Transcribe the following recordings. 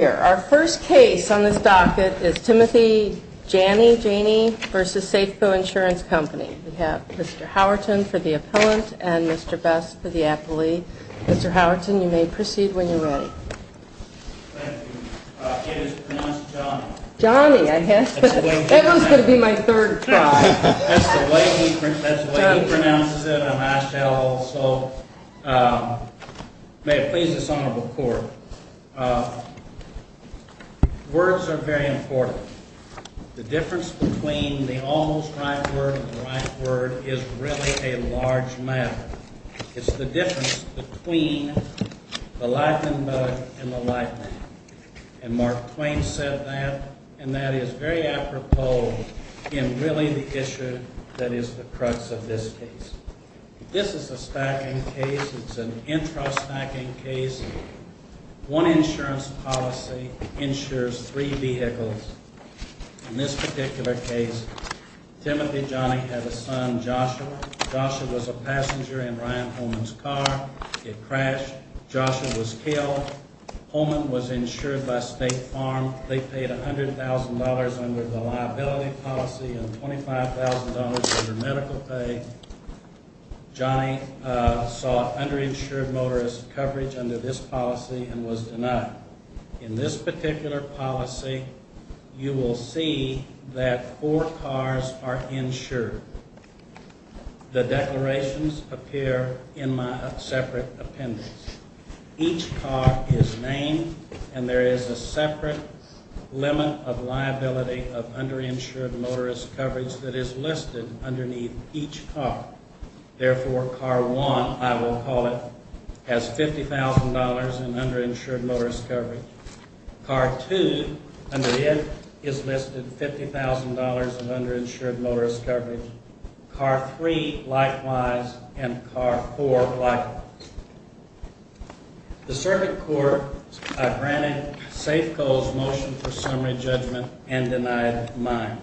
Our first case on this docket is Timothy Jany v. Safeco Insurance Company. We have Mr. Howerton for the appellant and Mr. Best for the appellee. Mr. Howerton, you may proceed when you're ready. Thank you. It is pronounced Johnny. Johnny. That was going to be my third try. That's the way he pronounces it. I'm asked to add a little salt. May it please this honorable court, words are very important. The difference between the almost right word and the right word is really a large matter. It's the difference between the lightning bug and the lightning. And Mark Twain said that, and that is very apropos in really the issue that is the crux of this case. This is a stacking case. It's an intra-stacking case. One insurance policy insures three vehicles. In this particular case, Timothy Jany had a son, Joshua. Joshua was a passenger in Ryan Holman's car. It crashed. Joshua was killed. Holman was insured by State Farm. They paid $100,000 under the liability policy and $25,000 under medical pay. Johnny saw underinsured motorist coverage under this policy and was denied. In this particular policy, you will see that four cars are insured. The declarations appear in my separate appendix. Each car is named, and there is a separate limit of liability of underinsured motorist coverage that is listed underneath each car. Therefore, car one, I will call it, has $50,000 in underinsured motorist coverage. Car two, under it, is listed $50,000 in underinsured motorist coverage. Car three, likewise, and car four, likewise. The circuit court, I granted Safeco's motion for summary judgment and denied mine.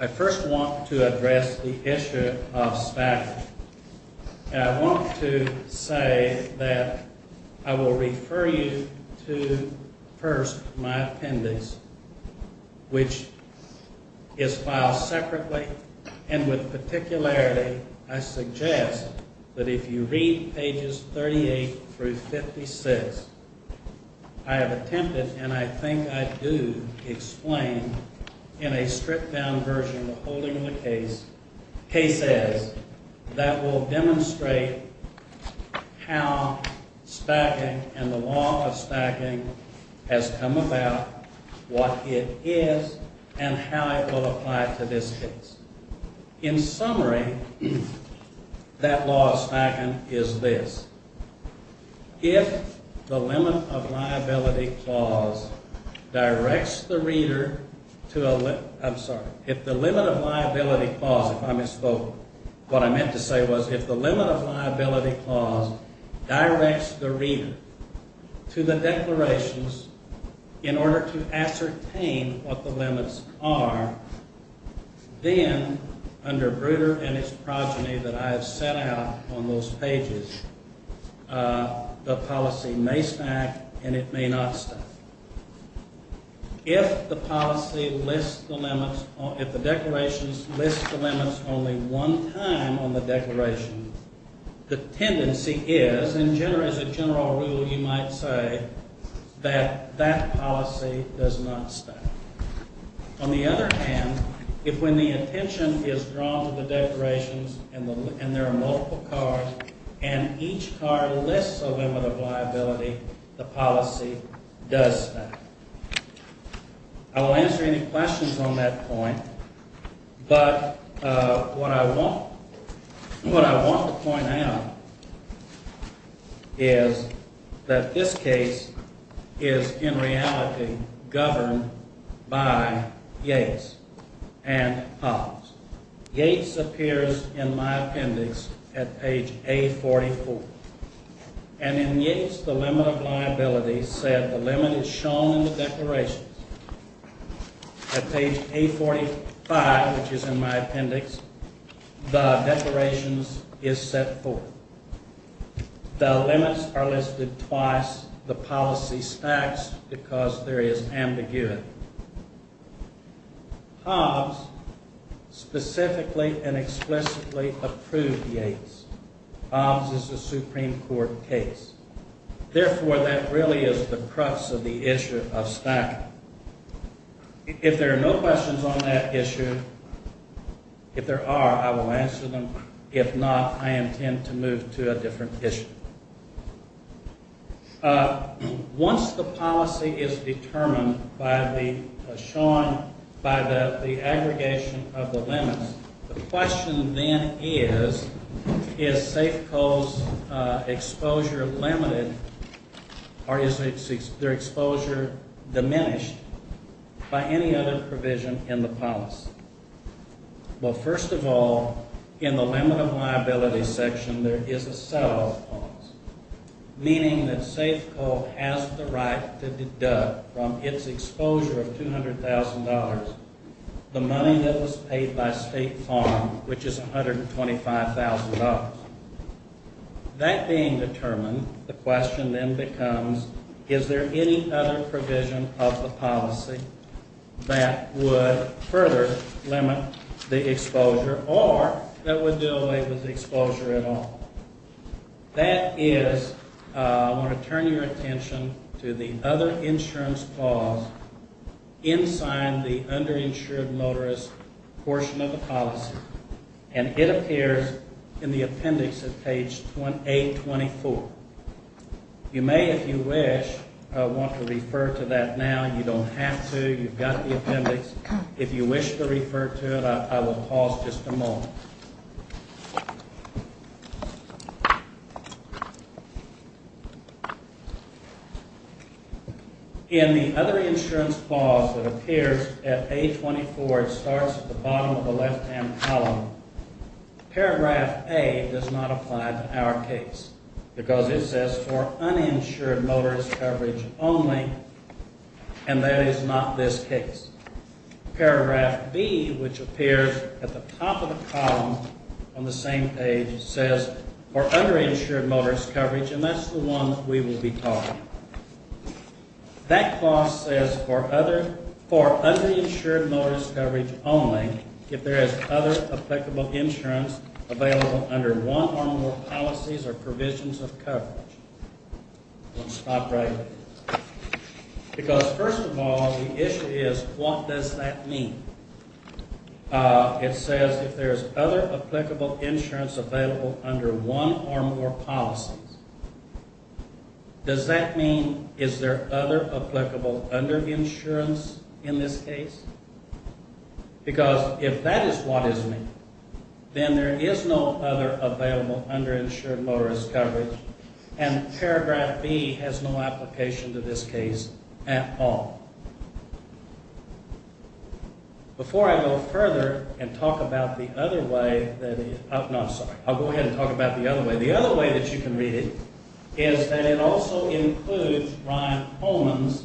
I first want to address the issue of stacking. And I want to say that I will refer you to, first, my appendix, which is filed separately, and with particularity, I suggest that if you read pages 38 through 56, I have attempted, and I think I do, explain in a stripped-down version of the holding of the cases that will demonstrate how stacking and the law of stacking has come about, what it is, and how it will apply to this case. In summary, that law of stacking is this. If the limit of liability clause directs the reader to a... I'm sorry. If the limit of liability clause, if I misspoke, what I meant to say was if the limit of liability clause directs the reader to the declarations in order to ascertain what the limits are, then under Bruder and its progeny that I have set out on those pages, the policy may stack and it may not stack. If the policy lists the limits, if the declarations list the limits only one time on the declaration, the tendency is, in general, as a general rule, you might say that that policy does not stack. On the other hand, if when the attention is drawn to the declarations and there are multiple cards and each card lists a limit of liability, the policy does stack. I will answer any questions on that point, but what I want to point out is that this case is, in reality, governed by Yates and Hobbs. Yates appears in my appendix at page A44, and in Yates, the limit of liability said the limit is shown in the declarations. At page A45, which is in my appendix, the declarations is set forth. The limits are listed twice. The policy stacks because there is ambiguity. Hobbs specifically and explicitly approved Yates. Hobbs is a Supreme Court case. Therefore, that really is the crux of the issue of stacking. If there are no questions on that issue, if there are, I will answer them. If not, I intend to move to a different issue. Once the policy is determined by the aggregation of the limits, the question then is, is Safeco's exposure limited, or is their exposure diminished by any other provision in the policy? Well, first of all, in the limit of liability section, there is a set of points, meaning that Safeco has the right to deduct from its exposure of $200,000 the money that was paid by State Farm, which is $125,000. That being determined, the question then becomes, is there any other provision of the policy that would further limit the exposure, or that would do away with the exposure at all? That is, I want to turn your attention to the other insurance clause inside the underinsured motorist portion of the policy, and it appears in the appendix at page 824. You may, if you wish, want to refer to that now. You don't have to. You've got the appendix. If you wish to refer to it, I will pause just a moment. In the other insurance clause that appears at page 824, it starts at the bottom of the left-hand column. Paragraph A does not apply to our case, because it says for uninsured motorist coverage only, and that is not this case. Paragraph B, which appears at the top of the column on the same page, says for underinsured motorist coverage, and that's the one we will be talking about. That clause says for underinsured motorist coverage only if there is other applicable insurance available under one or more policies or provisions of coverage. I'm going to stop right there. Because first of all, the issue is what does that mean? It says if there is other applicable insurance available under one or more policies, does that mean is there other applicable underinsurance in this case? Because if that is what is meant, then there is no other available underinsured motorist coverage, and paragraph B has no application to this case at all. Before I go further and talk about the other way, I'm sorry, I'll go ahead and talk about the other way. The other way that you can read it is that it also includes Ryan Pullman's,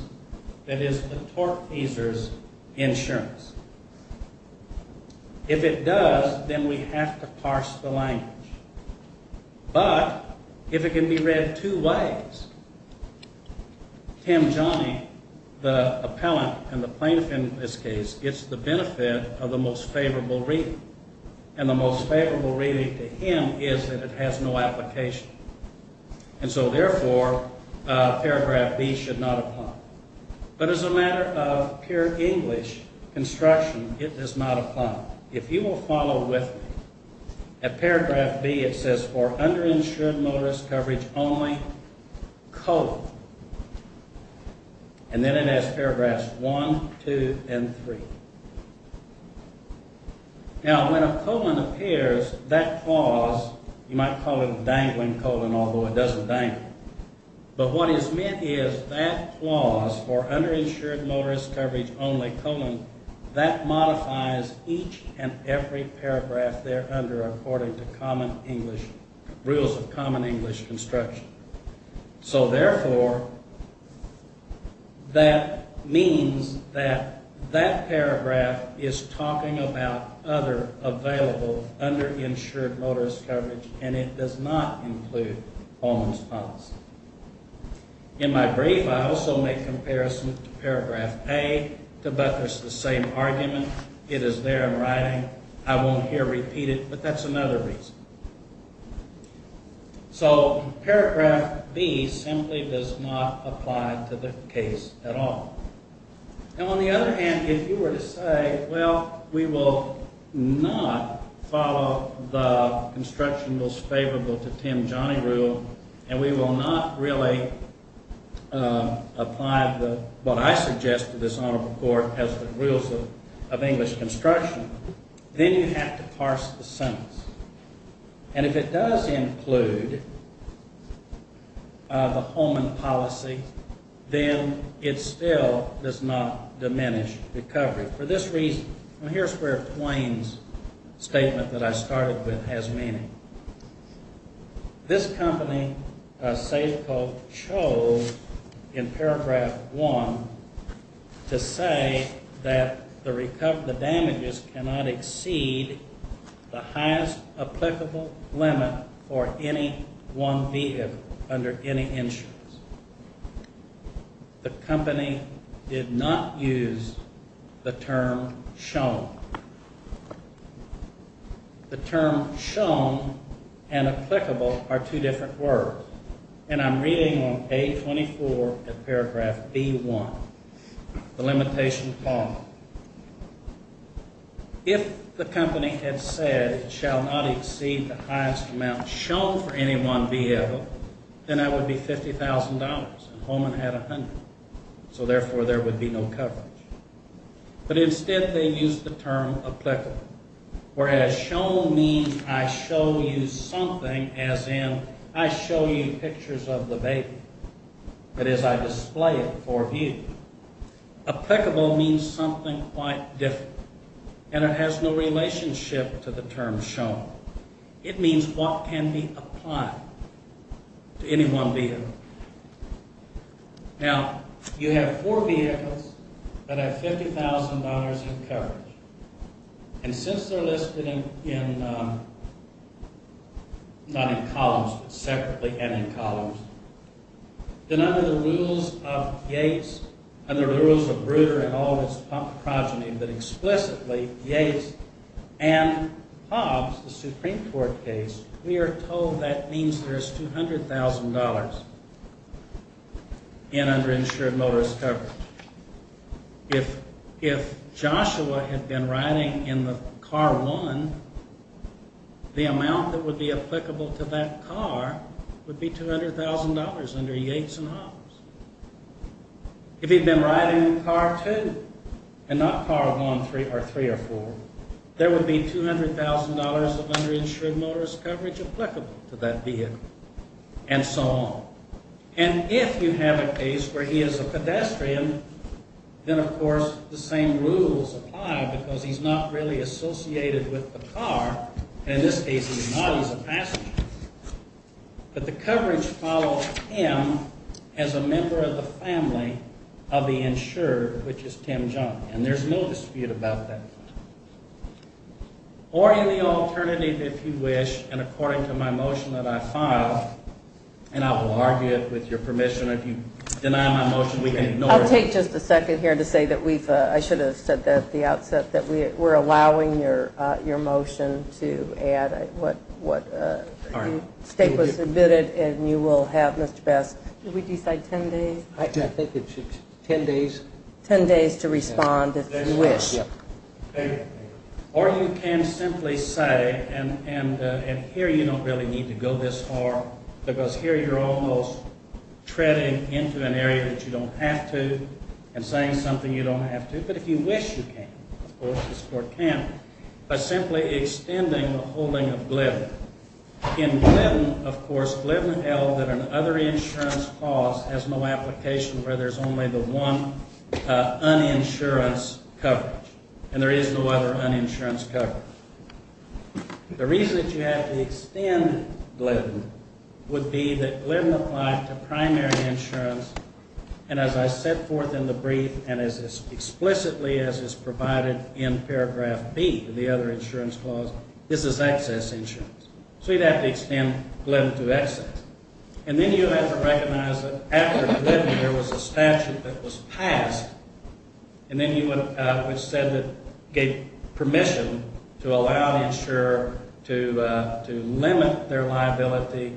that is, the torque teaser's insurance. If it does, then we have to parse the language. But if it can be read two ways, Tim Johnny, the appellant and the plaintiff in this case, gets the benefit of the most favorable reading. And the most favorable reading to him is that it has no application. And so therefore, paragraph B should not apply. But as a matter of pure English construction, it does not apply. Now, if you will follow with me, at paragraph B it says, for underinsured motorist coverage only, colon. And then it has paragraphs 1, 2, and 3. Now, when a colon appears, that clause, you might call it a dangling colon, although it doesn't dangle, but what is meant is that clause, for underinsured motorist coverage only, colon, that modifies each and every paragraph there under according to common English, rules of common English construction. So therefore, that means that that paragraph is talking about other available underinsured motorist coverage, and it does not include Pullman's policy. In my brief, I also make comparison to paragraph A to but there's the same argument. It is there in writing. I won't here repeat it, but that's another reason. So paragraph B simply does not apply to the case at all. Now, on the other hand, if you were to say, well, we will not follow the construction most favorable to Tim Johnny rule, and we will not really apply what I suggest to this honorable court as the rules of English construction, then you have to parse the sentence. And if it does include the Pullman policy, then it still does not diminish recovery. For this reason, here's where Plain's statement that I started with has meaning. This company, Safeco, chose in paragraph 1 to say that the damages cannot exceed the highest applicable limit for any one vehicle under any insurance. The company did not use the term shown. The term shown and applicable are two different words, and I'm reading on page 24 of paragraph B1, the limitation form. If the company had said it shall not exceed the highest amount shown for any one vehicle, then that would be $50,000, and Pullman had $100,000. So therefore, there would be no coverage. But instead, they used the term applicable, whereas shown means I show you something, as in I show you pictures of the baby, that is, I display it for view. Applicable means something quite different, and it has no relationship to the term shown. It means what can be applied to any one vehicle. Now, you have four vehicles that have $50,000 in coverage, and since they're listed in, not in columns, but separately and in columns, then under the rules of Yates, under the rules of Breuder and all his progeny, but explicitly Yates and Hobbs, the Supreme Court case, we are told that means there's $200,000 in underinsured motorist coverage. If Joshua had been riding in the car one, the amount that would be applicable to that car would be $200,000 under Yates and Hobbs. If he'd been riding in car two and not car one or three or four, there would be $200,000 of underinsured motorist coverage applicable to that vehicle, and so on. And if you have a case where he is a pedestrian, then, of course, the same rules apply because he's not really associated with the car, and in this case he's not, he's a passenger. But the coverage follows him as a member of the family of the insured, which is Tim John. And there's no dispute about that. Or in the alternative, if you wish, and according to my motion that I filed, and I will argue it with your permission. If you deny my motion, we can ignore it. I'll take just a second here to say that we've, I should have said that at the outset, that we're allowing your motion to add what state was submitted, and you will have, Mr. Bass, did we decide 10 days? I think it's 10 days. 10 days to respond if you wish. Or you can simply say, and here you don't really need to go this far, because here you're almost treading into an area that you don't have to and saying something you don't have to. But if you wish you can, of course, the court can. But simply extending the holding of Glidden. In Glidden, of course, Glidden held that an other insurance clause has no application where there's only the one uninsurance coverage, and there is no other uninsurance coverage. The reason that you have to extend Glidden would be that Glidden applied to primary insurance, and as I set forth in the brief and as explicitly as is provided in paragraph B of the other insurance clause, this is excess insurance. So you'd have to extend Glidden to excess. And then you have to recognize that after Glidden, there was a statute that was passed, and then it was said that it gave permission to allow the insurer to limit their liability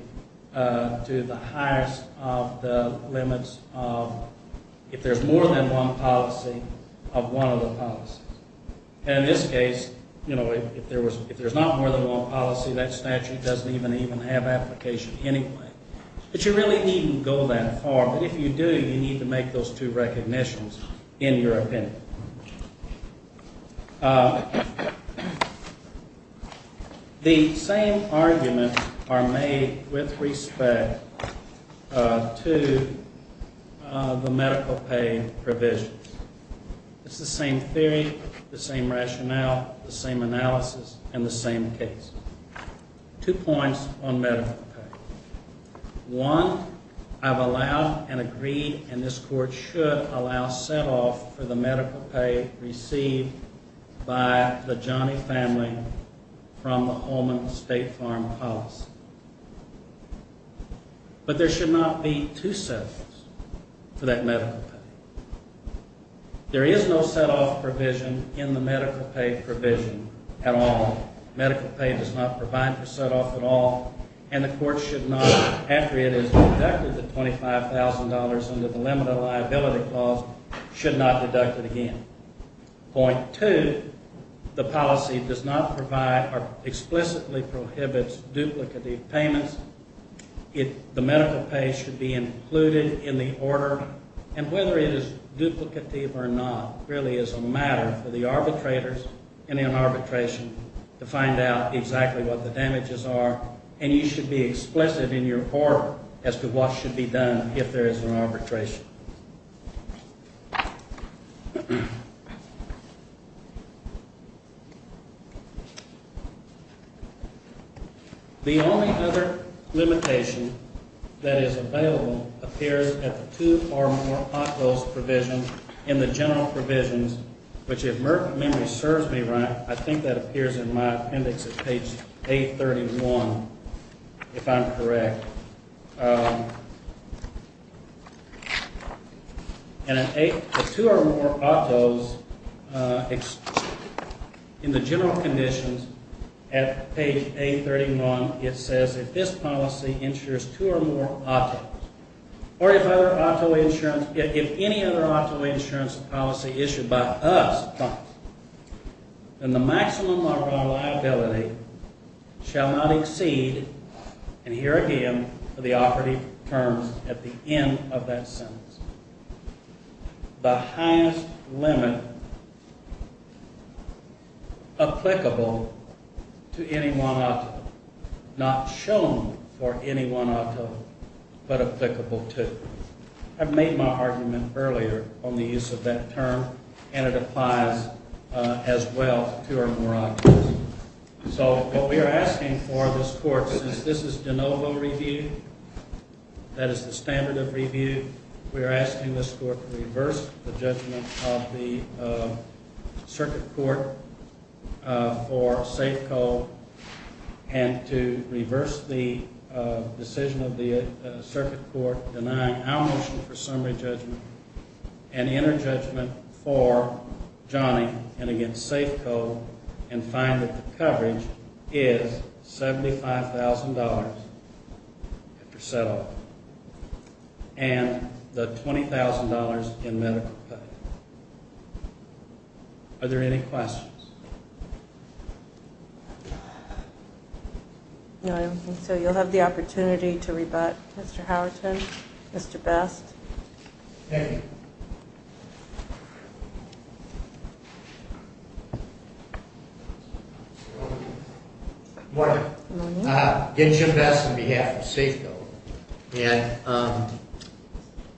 to the highest of the limits of, if there's more than one policy, of one of the policies. And in this case, if there's not more than one policy, that statute doesn't even have application anyway. But you really needn't go that far. But if you do, you need to make those two recognitions in your opinion. The same arguments are made with respect to the medical pay provisions. It's the same theory, the same rationale, the same analysis, and the same case. Two points on medical pay. One, I've allowed and agreed, and this Court should allow set-off for the medical pay received by the Johnny family from the Holman State Farm policy. But there should not be two set-offs for that medical pay. There is no set-off provision in the medical pay provision at all. Medical pay does not provide for set-off at all, and the Court should not, after it is deducted the $25,000 under the limit of liability clause, should not deduct it again. Point two, the policy does not provide or explicitly prohibits duplicative payments. The medical pay should be included in the order, and whether it is duplicative or not really is a matter for the arbitrators in an arbitration to find out exactly what the damages are, and you should be explicit in your order as to what should be done if there is an arbitration. Thank you. The only other limitation that is available appears at the two or more hot goals provision in the general provisions, which if memory serves me right, I think that appears in my appendix at page 831, if I'm correct. And at the two or more hot goals, in the general conditions at page 831, it says if this policy insures two or more hot goals, or if any other auto insurance policy issued by us, then the maximum of our liability shall not exceed, and here again are the operative terms at the end of that sentence, the highest limit applicable to any one auto, not shown for any one auto, but applicable to. I've made my argument earlier on the use of that term, and it applies as well to our more hot goals. So what we are asking for this court, since this is de novo review, that is the standard of review, we are asking this court to reverse the judgment of the circuit court for safe code and to reverse the decision of the circuit court denying our motion for summary judgment and inner judgment for Johnny and against safe code and find that the coverage is $75,000 if you're settled, and the $20,000 in medical pay. Are there any questions? No, I don't think so. You'll have the opportunity to rebut, Mr. Howerton, Mr. Best. Thank you. Good morning. Good morning. Jim Best on behalf of safe code, and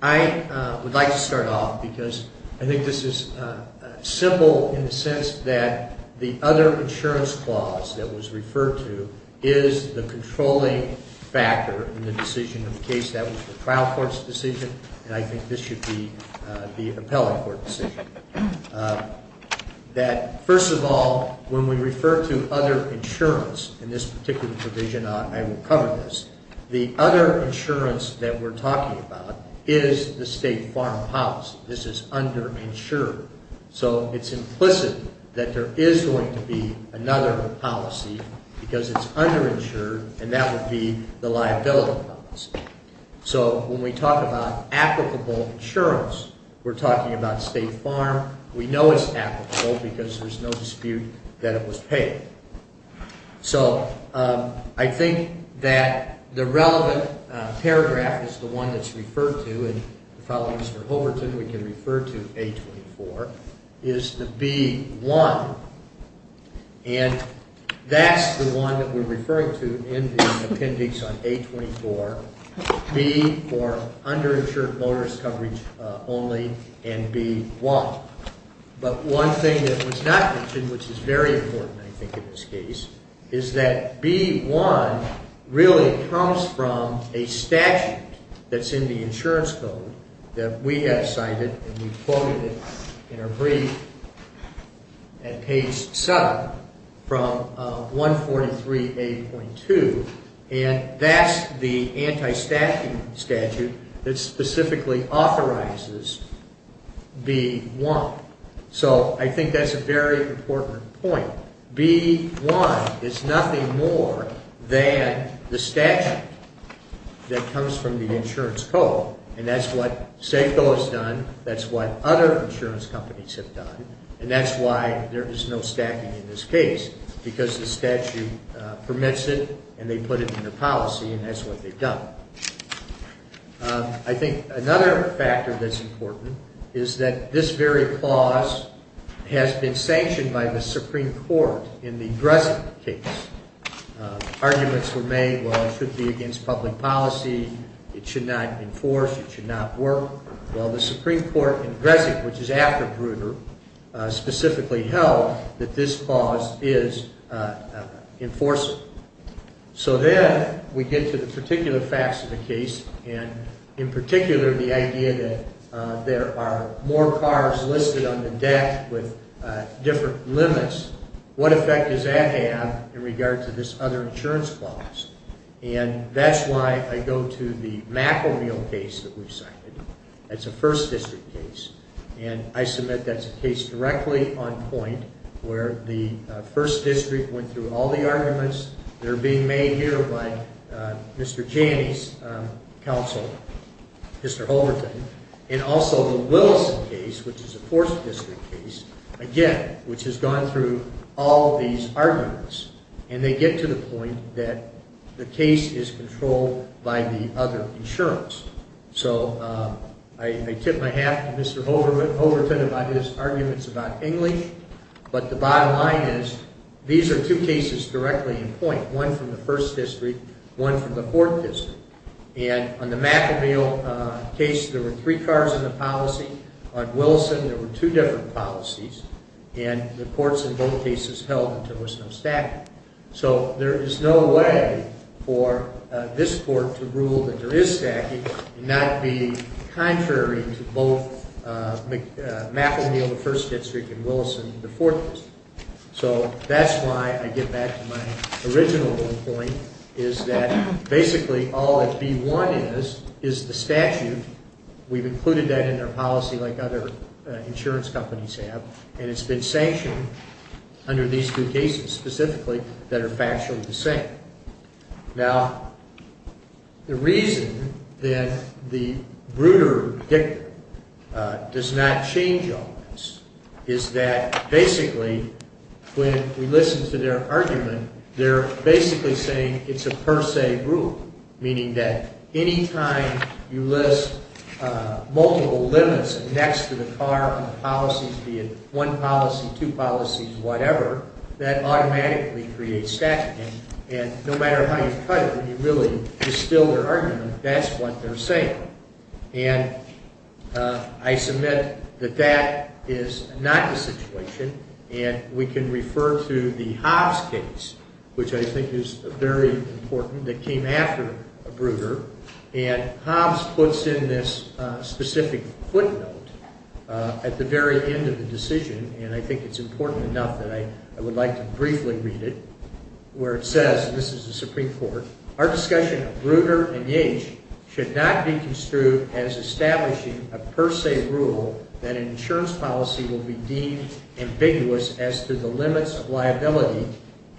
I would like to start off because I think this is simple in the sense that the other insurance clause that was referred to is the controlling factor in the decision of the case that was the trial court's decision, and I think this should be the appellate court's decision. First of all, when we refer to other insurance in this particular provision, I will cover this. The other insurance that we're talking about is the state farmhouse. This is underinsured. So it's implicit that there is going to be another policy because it's underinsured, and that would be the liability policy. So when we talk about applicable insurance, we're talking about state farm. We know it's applicable because there's no dispute that it was paid. So I think that the relevant paragraph is the one that's referred to, we can refer to A24, is the B1, and that's the one that we're referring to in the appendix on A24, B for underinsured motorist coverage only, and B1. But one thing that was not mentioned, which is very important, I think, in this case, is that B1 really comes from a statute that's in the insurance code that we have cited, and we quoted it in a brief at page 7 from 143A.2, and that's the anti-statute that specifically authorizes B1. So I think that's a very important point. B1 is nothing more than the statute that comes from the insurance code, and that's what Safeco has done, that's what other insurance companies have done, and that's why there is no staffing in this case, because the statute permits it and they put it in the policy, and that's what they've done. I think another factor that's important is that this very clause has been sanctioned by the Supreme Court in the Dresden case. Arguments were made, well, it should be against public policy, it should not enforce, it should not work. Well, the Supreme Court in Dresden, which is after Grutter, specifically held that this clause is enforceable. So then we get to the particular facts of the case, and in particular the idea that there are more cars listed on the deck with different limits. What effect does that have in regard to this other insurance clause? And that's why I go to the McElniel case that we've cited. That's a 1st District case, and I submit that's a case directly on point where the 1st District went through all the arguments. They're being made here by Mr. Janney's counsel, Mr. Holberton, and also the Willison case, which is a 4th District case, again, which has gone through all these arguments, and they get to the point that the case is controlled by the other insurance. So I tip my hat to Mr. Holberton about his arguments about English, but the bottom line is these are two cases directly in point, one from the 1st District, one from the 4th District. And on the McElniel case, there were three cars in the policy. On Willison, there were two different policies, and the courts in both cases held that there was no stacking. So there is no way for this court to rule that there is stacking and not be contrary to both McElniel, the 1st District, and Willison, the 4th District. So that's why I get back to my original point, is that basically all that B-1 is is the statute. We've included that in our policy like other insurance companies have, and it's been sanctioned under these two cases specifically that are factually the same. Now, the reason that the Bruder Dictum does not change all this is that basically when we listen to their argument, they're basically saying it's a per se rule, meaning that any time you list multiple limits next to the car on the policies, be it one policy, two policies, whatever, that automatically creates stacking, and no matter how you cut it, when you really distill their argument, that's what they're saying. And I submit that that is not the situation, and we can refer to the Hobbs case, which I think is very important, that came after Bruder, and Hobbs puts in this specific footnote at the very end of the decision, and I think it's important enough that I would like to briefly read it where it says, and this is the Supreme Court, our discussion of Bruder and Yeats should not be construed as establishing a per se rule that an insurance policy will be deemed ambiguous as to the limits of liability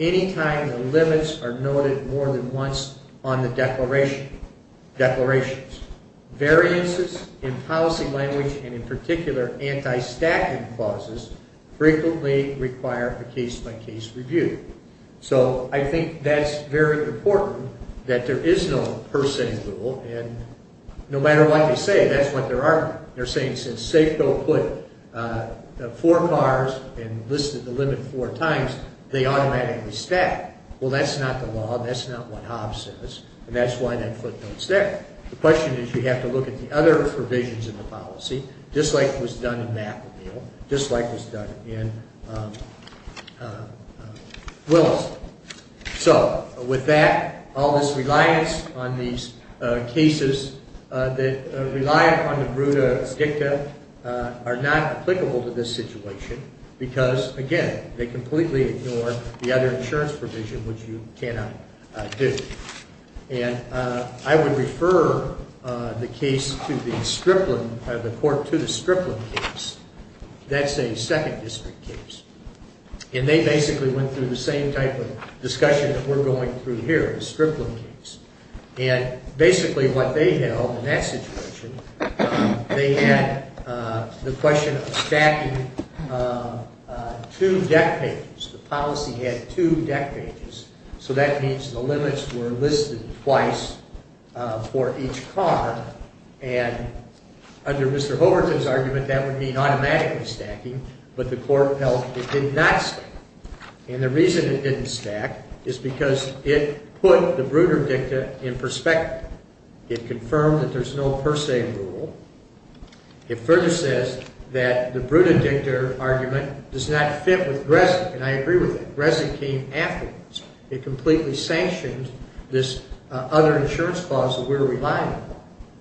any time the limits are noted more than once on the declarations. Variances in policy language, and in particular anti-stacking clauses, frequently require a case-by-case review. So I think that's very important, that there is no per se rule, and no matter what they say, that's what they're arguing. They're saying since Safeco put four cars and listed the limit four times, they automatically stack. Well, that's not the law, that's not what Hobbs says, and that's why that footnote's there. The question is you have to look at the other provisions of the policy, just like was done in McAneel, just like was done in Willis. So with that, all this reliance on these cases that rely upon the Bruder Dicta are not applicable to this situation because, again, they completely ignore the other insurance provision, which you cannot do. And I would refer the court to the Stripland case. That's a second district case. And they basically went through the same type of discussion that we're going through here, the Stripland case. And basically what they held in that situation, they had the question of stacking two deck pages. The policy had two deck pages. So that means the limits were listed twice for each car. And under Mr. Hoberton's argument, that would mean automatically stacking, but the court held it did not stack. And the reason it didn't stack is because it put the Bruder Dicta in perspective. It confirmed that there's no per se rule. It further says that the Bruder Dicta argument does not fit with Gresin, and I agree with it. It completely sanctioned this other insurance clause that we're relying on.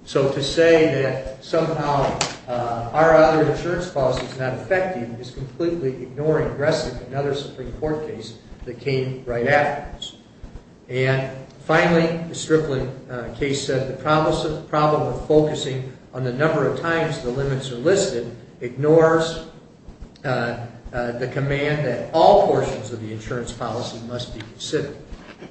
So to say that somehow our other insurance clause is not effective is completely ignoring Gresin, another Supreme Court case that came right afterwards. And finally, the Stripland case said, the problem of focusing on the number of times the limits are listed ignores the command that all portions of the insurance policy must be considered.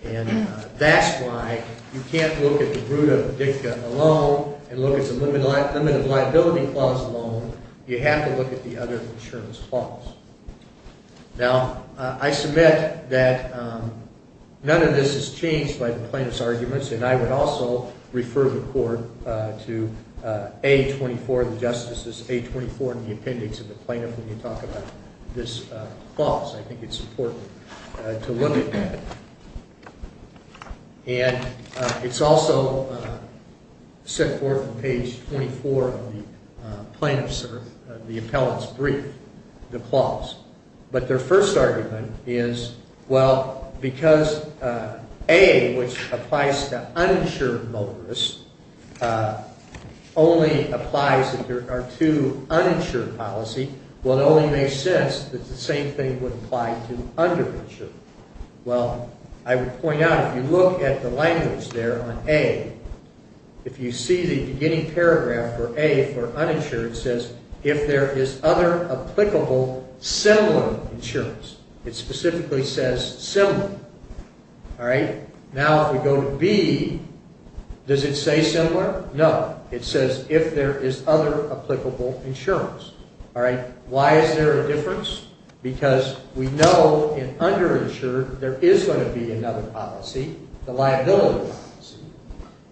And that's why you can't look at the Bruder Dicta alone and look at the limited liability clause alone. You have to look at the other insurance clause. Now, I submit that none of this is changed by the plaintiff's arguments, and I would also refer the Court to A24, the justices, A24 in the appendix of the plaintiff when you talk about this clause. I think it's important to look at that. And it's also set forth on page 24 of the plaintiff's or the appellant's brief, the clause. But their first argument is, well, because A, which applies to uninsured motorists, only applies if there are two uninsured policy, well, it only makes sense that the same thing would apply to underinsured. Well, I would point out, if you look at the language there on A, if you see the beginning paragraph for A for uninsured, it says, if there is other applicable similar insurance. It specifically says similar. Now, if we go to B, does it say similar? No. It says, if there is other applicable insurance. Why is there a difference? Because we know in underinsured there is going to be another policy, the liability policy,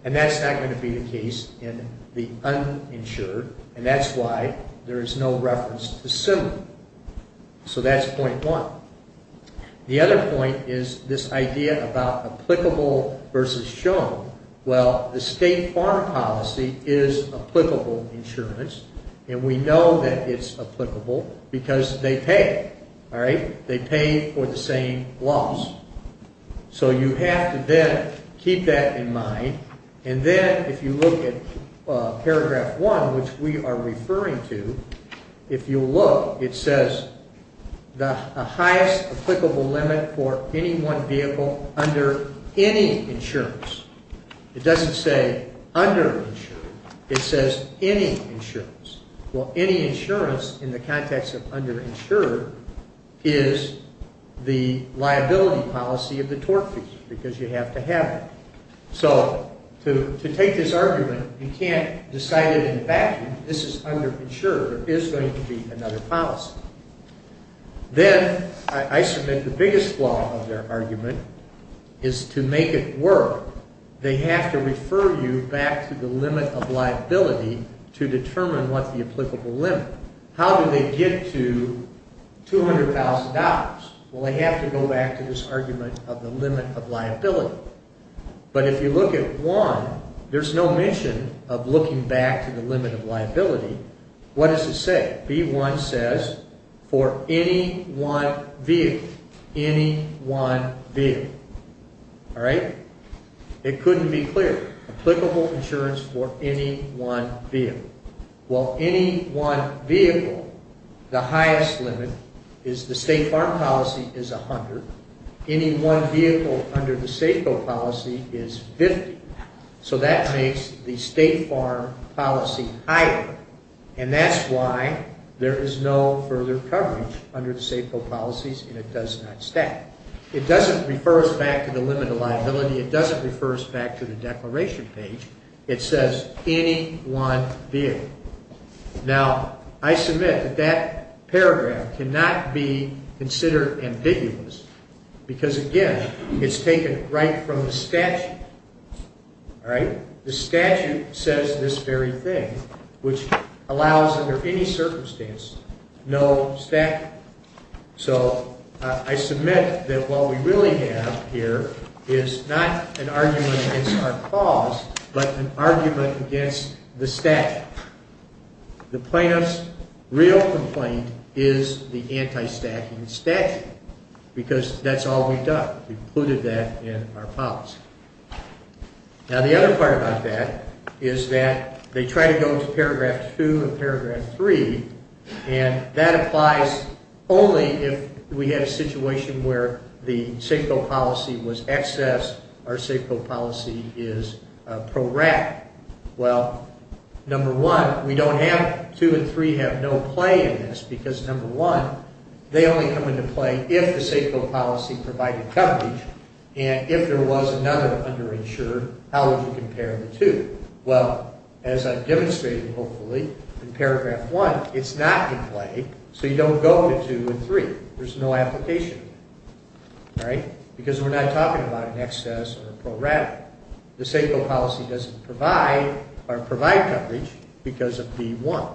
and that's not going to be the case in the uninsured, and that's why there is no reference to similar. So that's point one. The other point is this idea about applicable versus shown. Well, the state farm policy is applicable insurance, and we know that it's applicable because they pay, all right? They pay for the same loss. So you have to then keep that in mind. And then if you look at paragraph one, which we are referring to, if you look, it says the highest applicable limit for any one vehicle under any insurance. It doesn't say underinsured. It says any insurance. Well, any insurance in the context of underinsured is the liability policy of the torque fee because you have to have it. So to take this argument, you can't decide it in a vacuum. This is underinsured. There is going to be another policy. Then I submit the biggest flaw of their argument is to make it work. They have to refer you back to the limit of liability to determine what the applicable limit. How do they get to $200,000? Well, they have to go back to this argument of the limit of liability. But if you look at one, there's no mission of looking back to the limit of liability. What does it say? B1 says for any one vehicle, any one vehicle, all right? It couldn't be clearer. Applicable insurance for any one vehicle. Well, any one vehicle, the highest limit is the State Farm policy is $100,000. Any one vehicle under the Safeco policy is $50,000. So that makes the State Farm policy higher, and that's why there is no further coverage under the Safeco policies, and it does not stack. It doesn't refer us back to the limit of liability. It doesn't refer us back to the declaration page. It says any one vehicle. Now, I submit that that paragraph cannot be considered ambiguous because, again, it's taken right from the statute, all right? The statute says this very thing, which allows under any circumstance no stacking. So I submit that what we really have here is not an argument against our clause, but an argument against the stack. The plaintiff's real complaint is the anti-stacking statute because that's all we've done. We've included that in our policy. Now, the other part about that is that they try to go to paragraph 2 and paragraph 3, and that applies only if we have a situation where the Safeco policy was excess, our Safeco policy is prorat. Well, number one, we don't have two and three have no play in this because, number one, they only come into play if the Safeco policy provided coverage, and if there was another underinsured, how would you compare the two? Well, as I've demonstrated, hopefully, in paragraph 1, it's not in play, so you don't go to two and three. There's no application, all right, because we're not talking about an excess or a prorat. The Safeco policy doesn't provide coverage because of D1.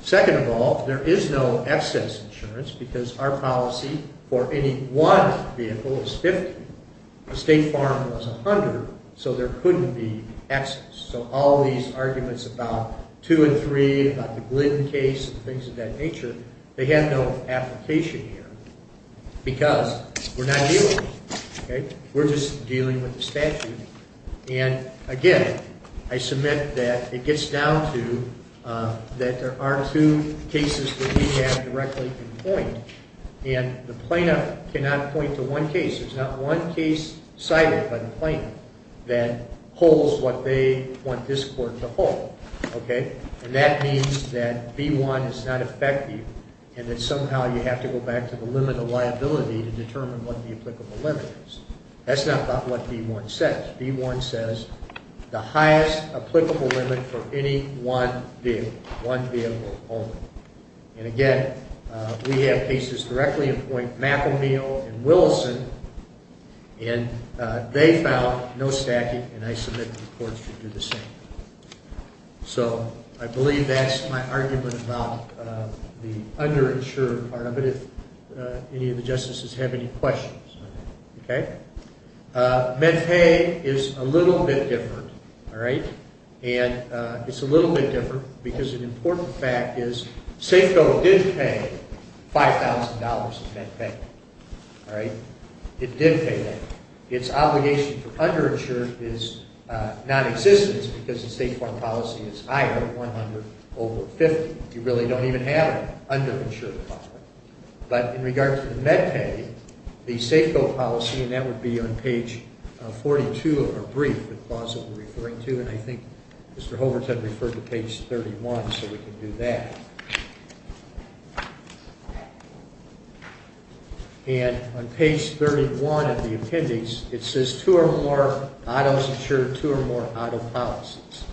Second of all, there is no excess insurance because our policy for any one vehicle is 50. The State Farm was 100, so there couldn't be excess, so all these arguments about two and three, about the Glynn case, and things of that nature, they have no application here because we're not dealing, okay? We're just dealing with the statute, and again, I submit that it gets down to that there are two cases that we have directly in point, and the plaintiff cannot point to one case. There's not one case cited by the plaintiff that holds what they want this court to hold, okay, and that means that B1 is not effective and that somehow you have to go back to the limit of liability to determine what the applicable limit is. That's not about what B1 says. B1 says the highest applicable limit for any one vehicle, one vehicle only, and again, we have cases directly in point, McElniel and Willison, and they found no stacking, and I submit the courts should do the same. So I believe that's my argument about the underinsured part of it, if any of the justices have any questions, okay? MedPay is a little bit different, all right, and it's a little bit different because an important fact is Safeco did pay $5,000 of MedPay, all right? It did pay that. Its obligation for underinsured is nonexistent because the state foreign policy is higher, 100 over 50. You really don't even have underinsured property, but in regard to the MedPay, the Safeco policy, and that would be on page 42 of our brief, the clause that we're referring to, and I think Mr. Hoverton referred to page 31, so we can do that. And on page 31 of the appendix, it says two or more autos insure two or more auto policies,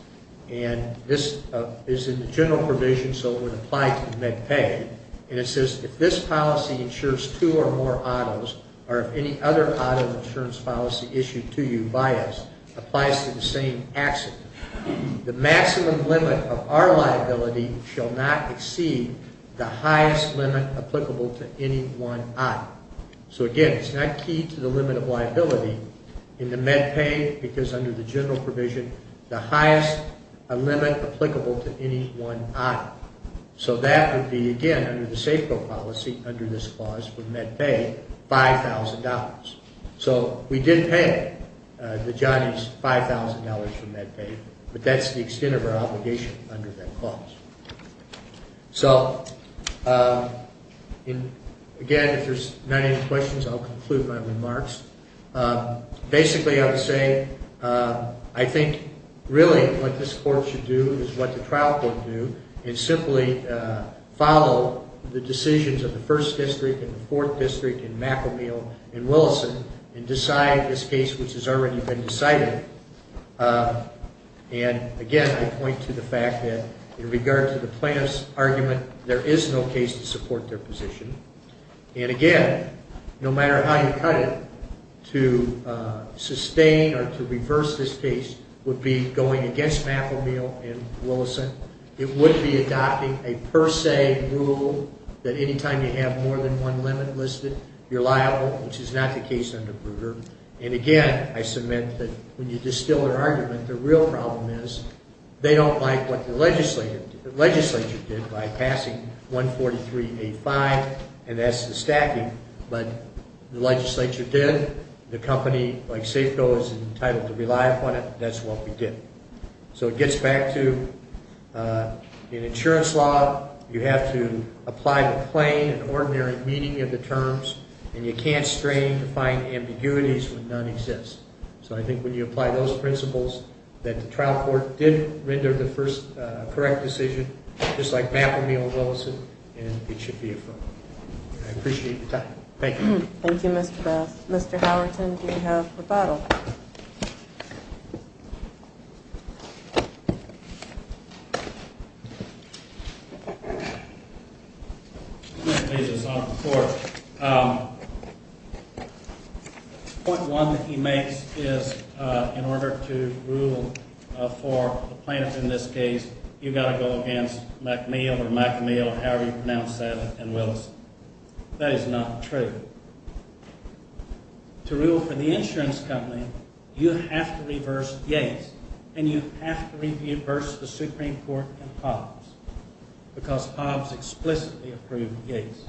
and this is in the general provision, so it would apply to MedPay, and it says if this policy insures two or more autos or if any other auto insurance policy issued to you by us applies to the same accident, the maximum limit of our liability shall not exceed the highest limit applicable to any one auto. So again, it's not key to the limit of liability in the MedPay because under the general provision, the highest limit applicable to any one auto. So that would be, again, under the Safeco policy under this clause for MedPay, $5,000. So we did pay the Johnnies $5,000 for MedPay, but that's the extent of our obligation under that clause. So again, if there's not any questions, I'll conclude my remarks. Basically, I would say I think really what this court should do is what the trial court do is simply follow the decisions of the 1st District and the 4th District and McAmeel and Willison and decide this case which has already been decided. And again, I point to the fact that in regard to the plaintiff's argument, there is no case to support their position. And again, no matter how you cut it, to sustain or to reverse this case would be going against McAmeel and Willison. It would be adopting a per se rule that any time you have more than one limit listed, you're liable, which is not the case under Bruger. And again, I submit that when you distill their argument, the real problem is they don't like what the legislature did by passing 143A5, and that's the stacking. But the legislature did. The company like Safeco is entitled to rely upon it. That's what we did. So it gets back to an insurance law, you have to apply the plain and ordinary meaning of the terms, and you can't strain to find ambiguities when none exist. So I think when you apply those principles that the trial court did render the first correct decision, just like McAmeel and Willison, and it should be affirmed. I appreciate your time. Thank you. Thank you, Mr. Best. Mr. Howerton, do you have a rebuttal? Thank you. Mr. Beasley's on the floor. Point one that he makes is in order to rule for the plaintiff in this case, you've got to go against McAmeel or McAmeel, however you pronounce that, and Willison. That is not true. To rule for the insurance company, you have to reverse Yates, and you have to reverse the Supreme Court and Hobbs because Hobbs explicitly approved Yates.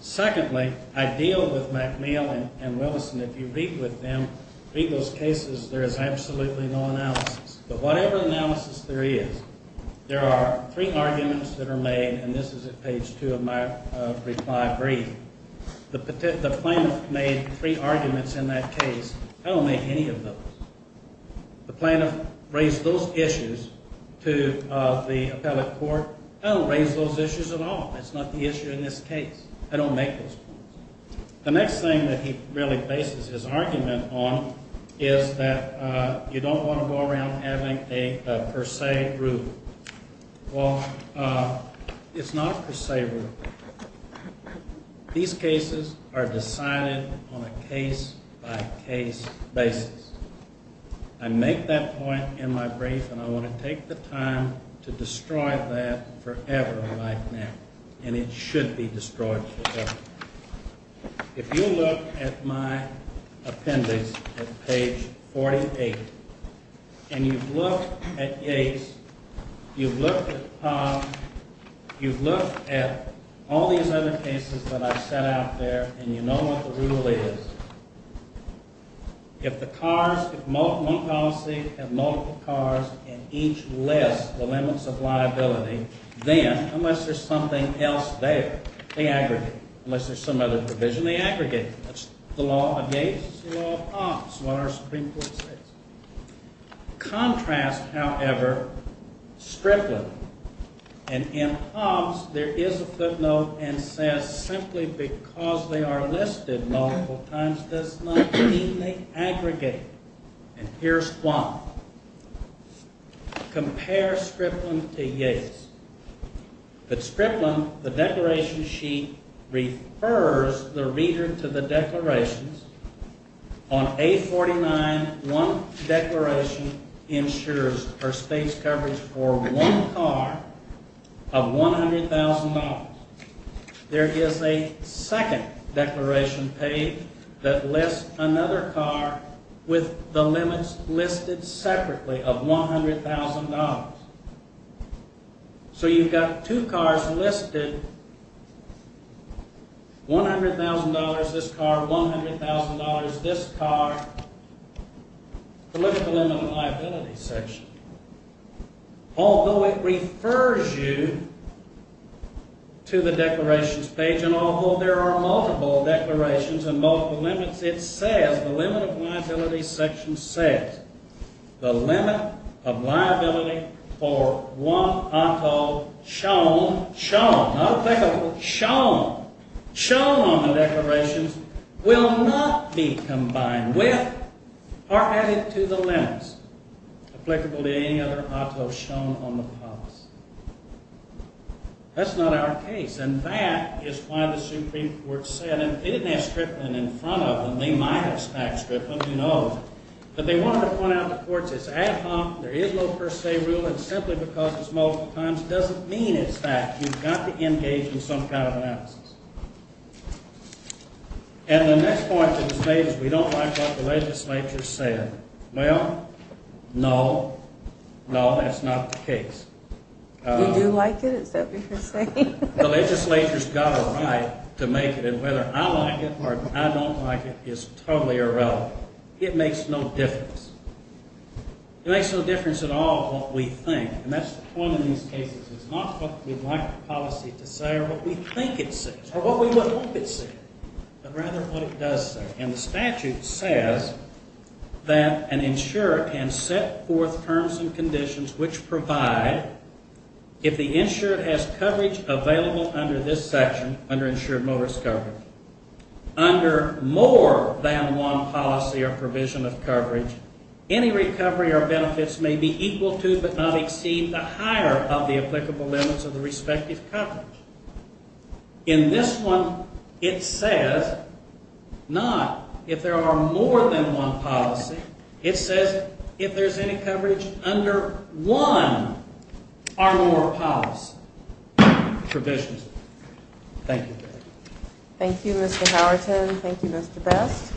Secondly, I deal with McAmeel and Willison. If you read with them, read those cases, there is absolutely no analysis. But whatever analysis there is, there are three arguments that are made, and this is at page two of my reply brief. The plaintiff made three arguments in that case. I don't make any of those. The plaintiff raised those issues to the appellate court. I don't raise those issues at all. It's not the issue in this case. I don't make those points. The next thing that he really bases his argument on is that you don't want to go around having a per se rule. Well, it's not a per se rule. These cases are decided on a case-by-case basis. I make that point in my brief, and I want to take the time to destroy that forever like that, and it should be destroyed forever. If you look at my appendix at page 48, and you've looked at Yates, you've looked at Pop, you've looked at all these other cases that I've set out there, and you know what the rule is. If the cars, if one policy had multiple cars and each less the limits of liability, then unless there's something else there, they aggregate. Unless there's some other provision, they aggregate. That's the law of Yates. It's the law of Pop. It's what our Supreme Court says. Contrast, however, Strickland. And in Pop's, there is a footnote and says simply because they are listed multiple times does not mean they aggregate. And here's why. Compare Strickland to Yates. At Strickland, the declaration sheet refers the reader to the declarations. On A49, one declaration ensures our state's coverage for one car of $100,000. There is a second declaration page that lists another car with the limits listed separately of $100,000. So you've got two cars listed, $100,000, this car, $100,000, this car, political limit of liability section. Although it refers you to the declarations page and although there are multiple declarations and multiple limits, it says the limit of liability section says the limit of liability for one auto shown, shown, not applicable, shown, shown on the declarations will not be combined with or added to the limits. Applicable to any other auto shown on the Pop's. That's not our case. And that is why the Supreme Court said, and they didn't ask Strickland in front of them. They might have asked back Strickland, you know. But they wanted to point out to courts it's ad hoc. There is no per se rule. And simply because it's multiple times doesn't mean it's that. You've got to engage in some kind of analysis. And the next point that was made is we don't like what the legislature said. Well, no, no, that's not the case. You do like it, is that what you're saying? The legislature's got a right to make it. And whether I like it or I don't like it is totally irrelevant. It makes no difference. It makes no difference at all what we think. And that's the point of these cases. It's not what we'd like the policy to say or what we think it says or what we would hope it says, but rather what it does say. And the statute says that an insurer can set forth terms and conditions which provide, if the insurer has coverage available under this section, under insured motorist coverage, under more than one policy or provision of coverage, any recovery or benefits may be equal to but not exceed the higher of the applicable limits of the respective coverage. In this one, it says not if there are more than one policy. It says if there's any coverage under one or more policy provisions. Thank you. Thank you, Mr. Howerton. Thank you, Mr. Best.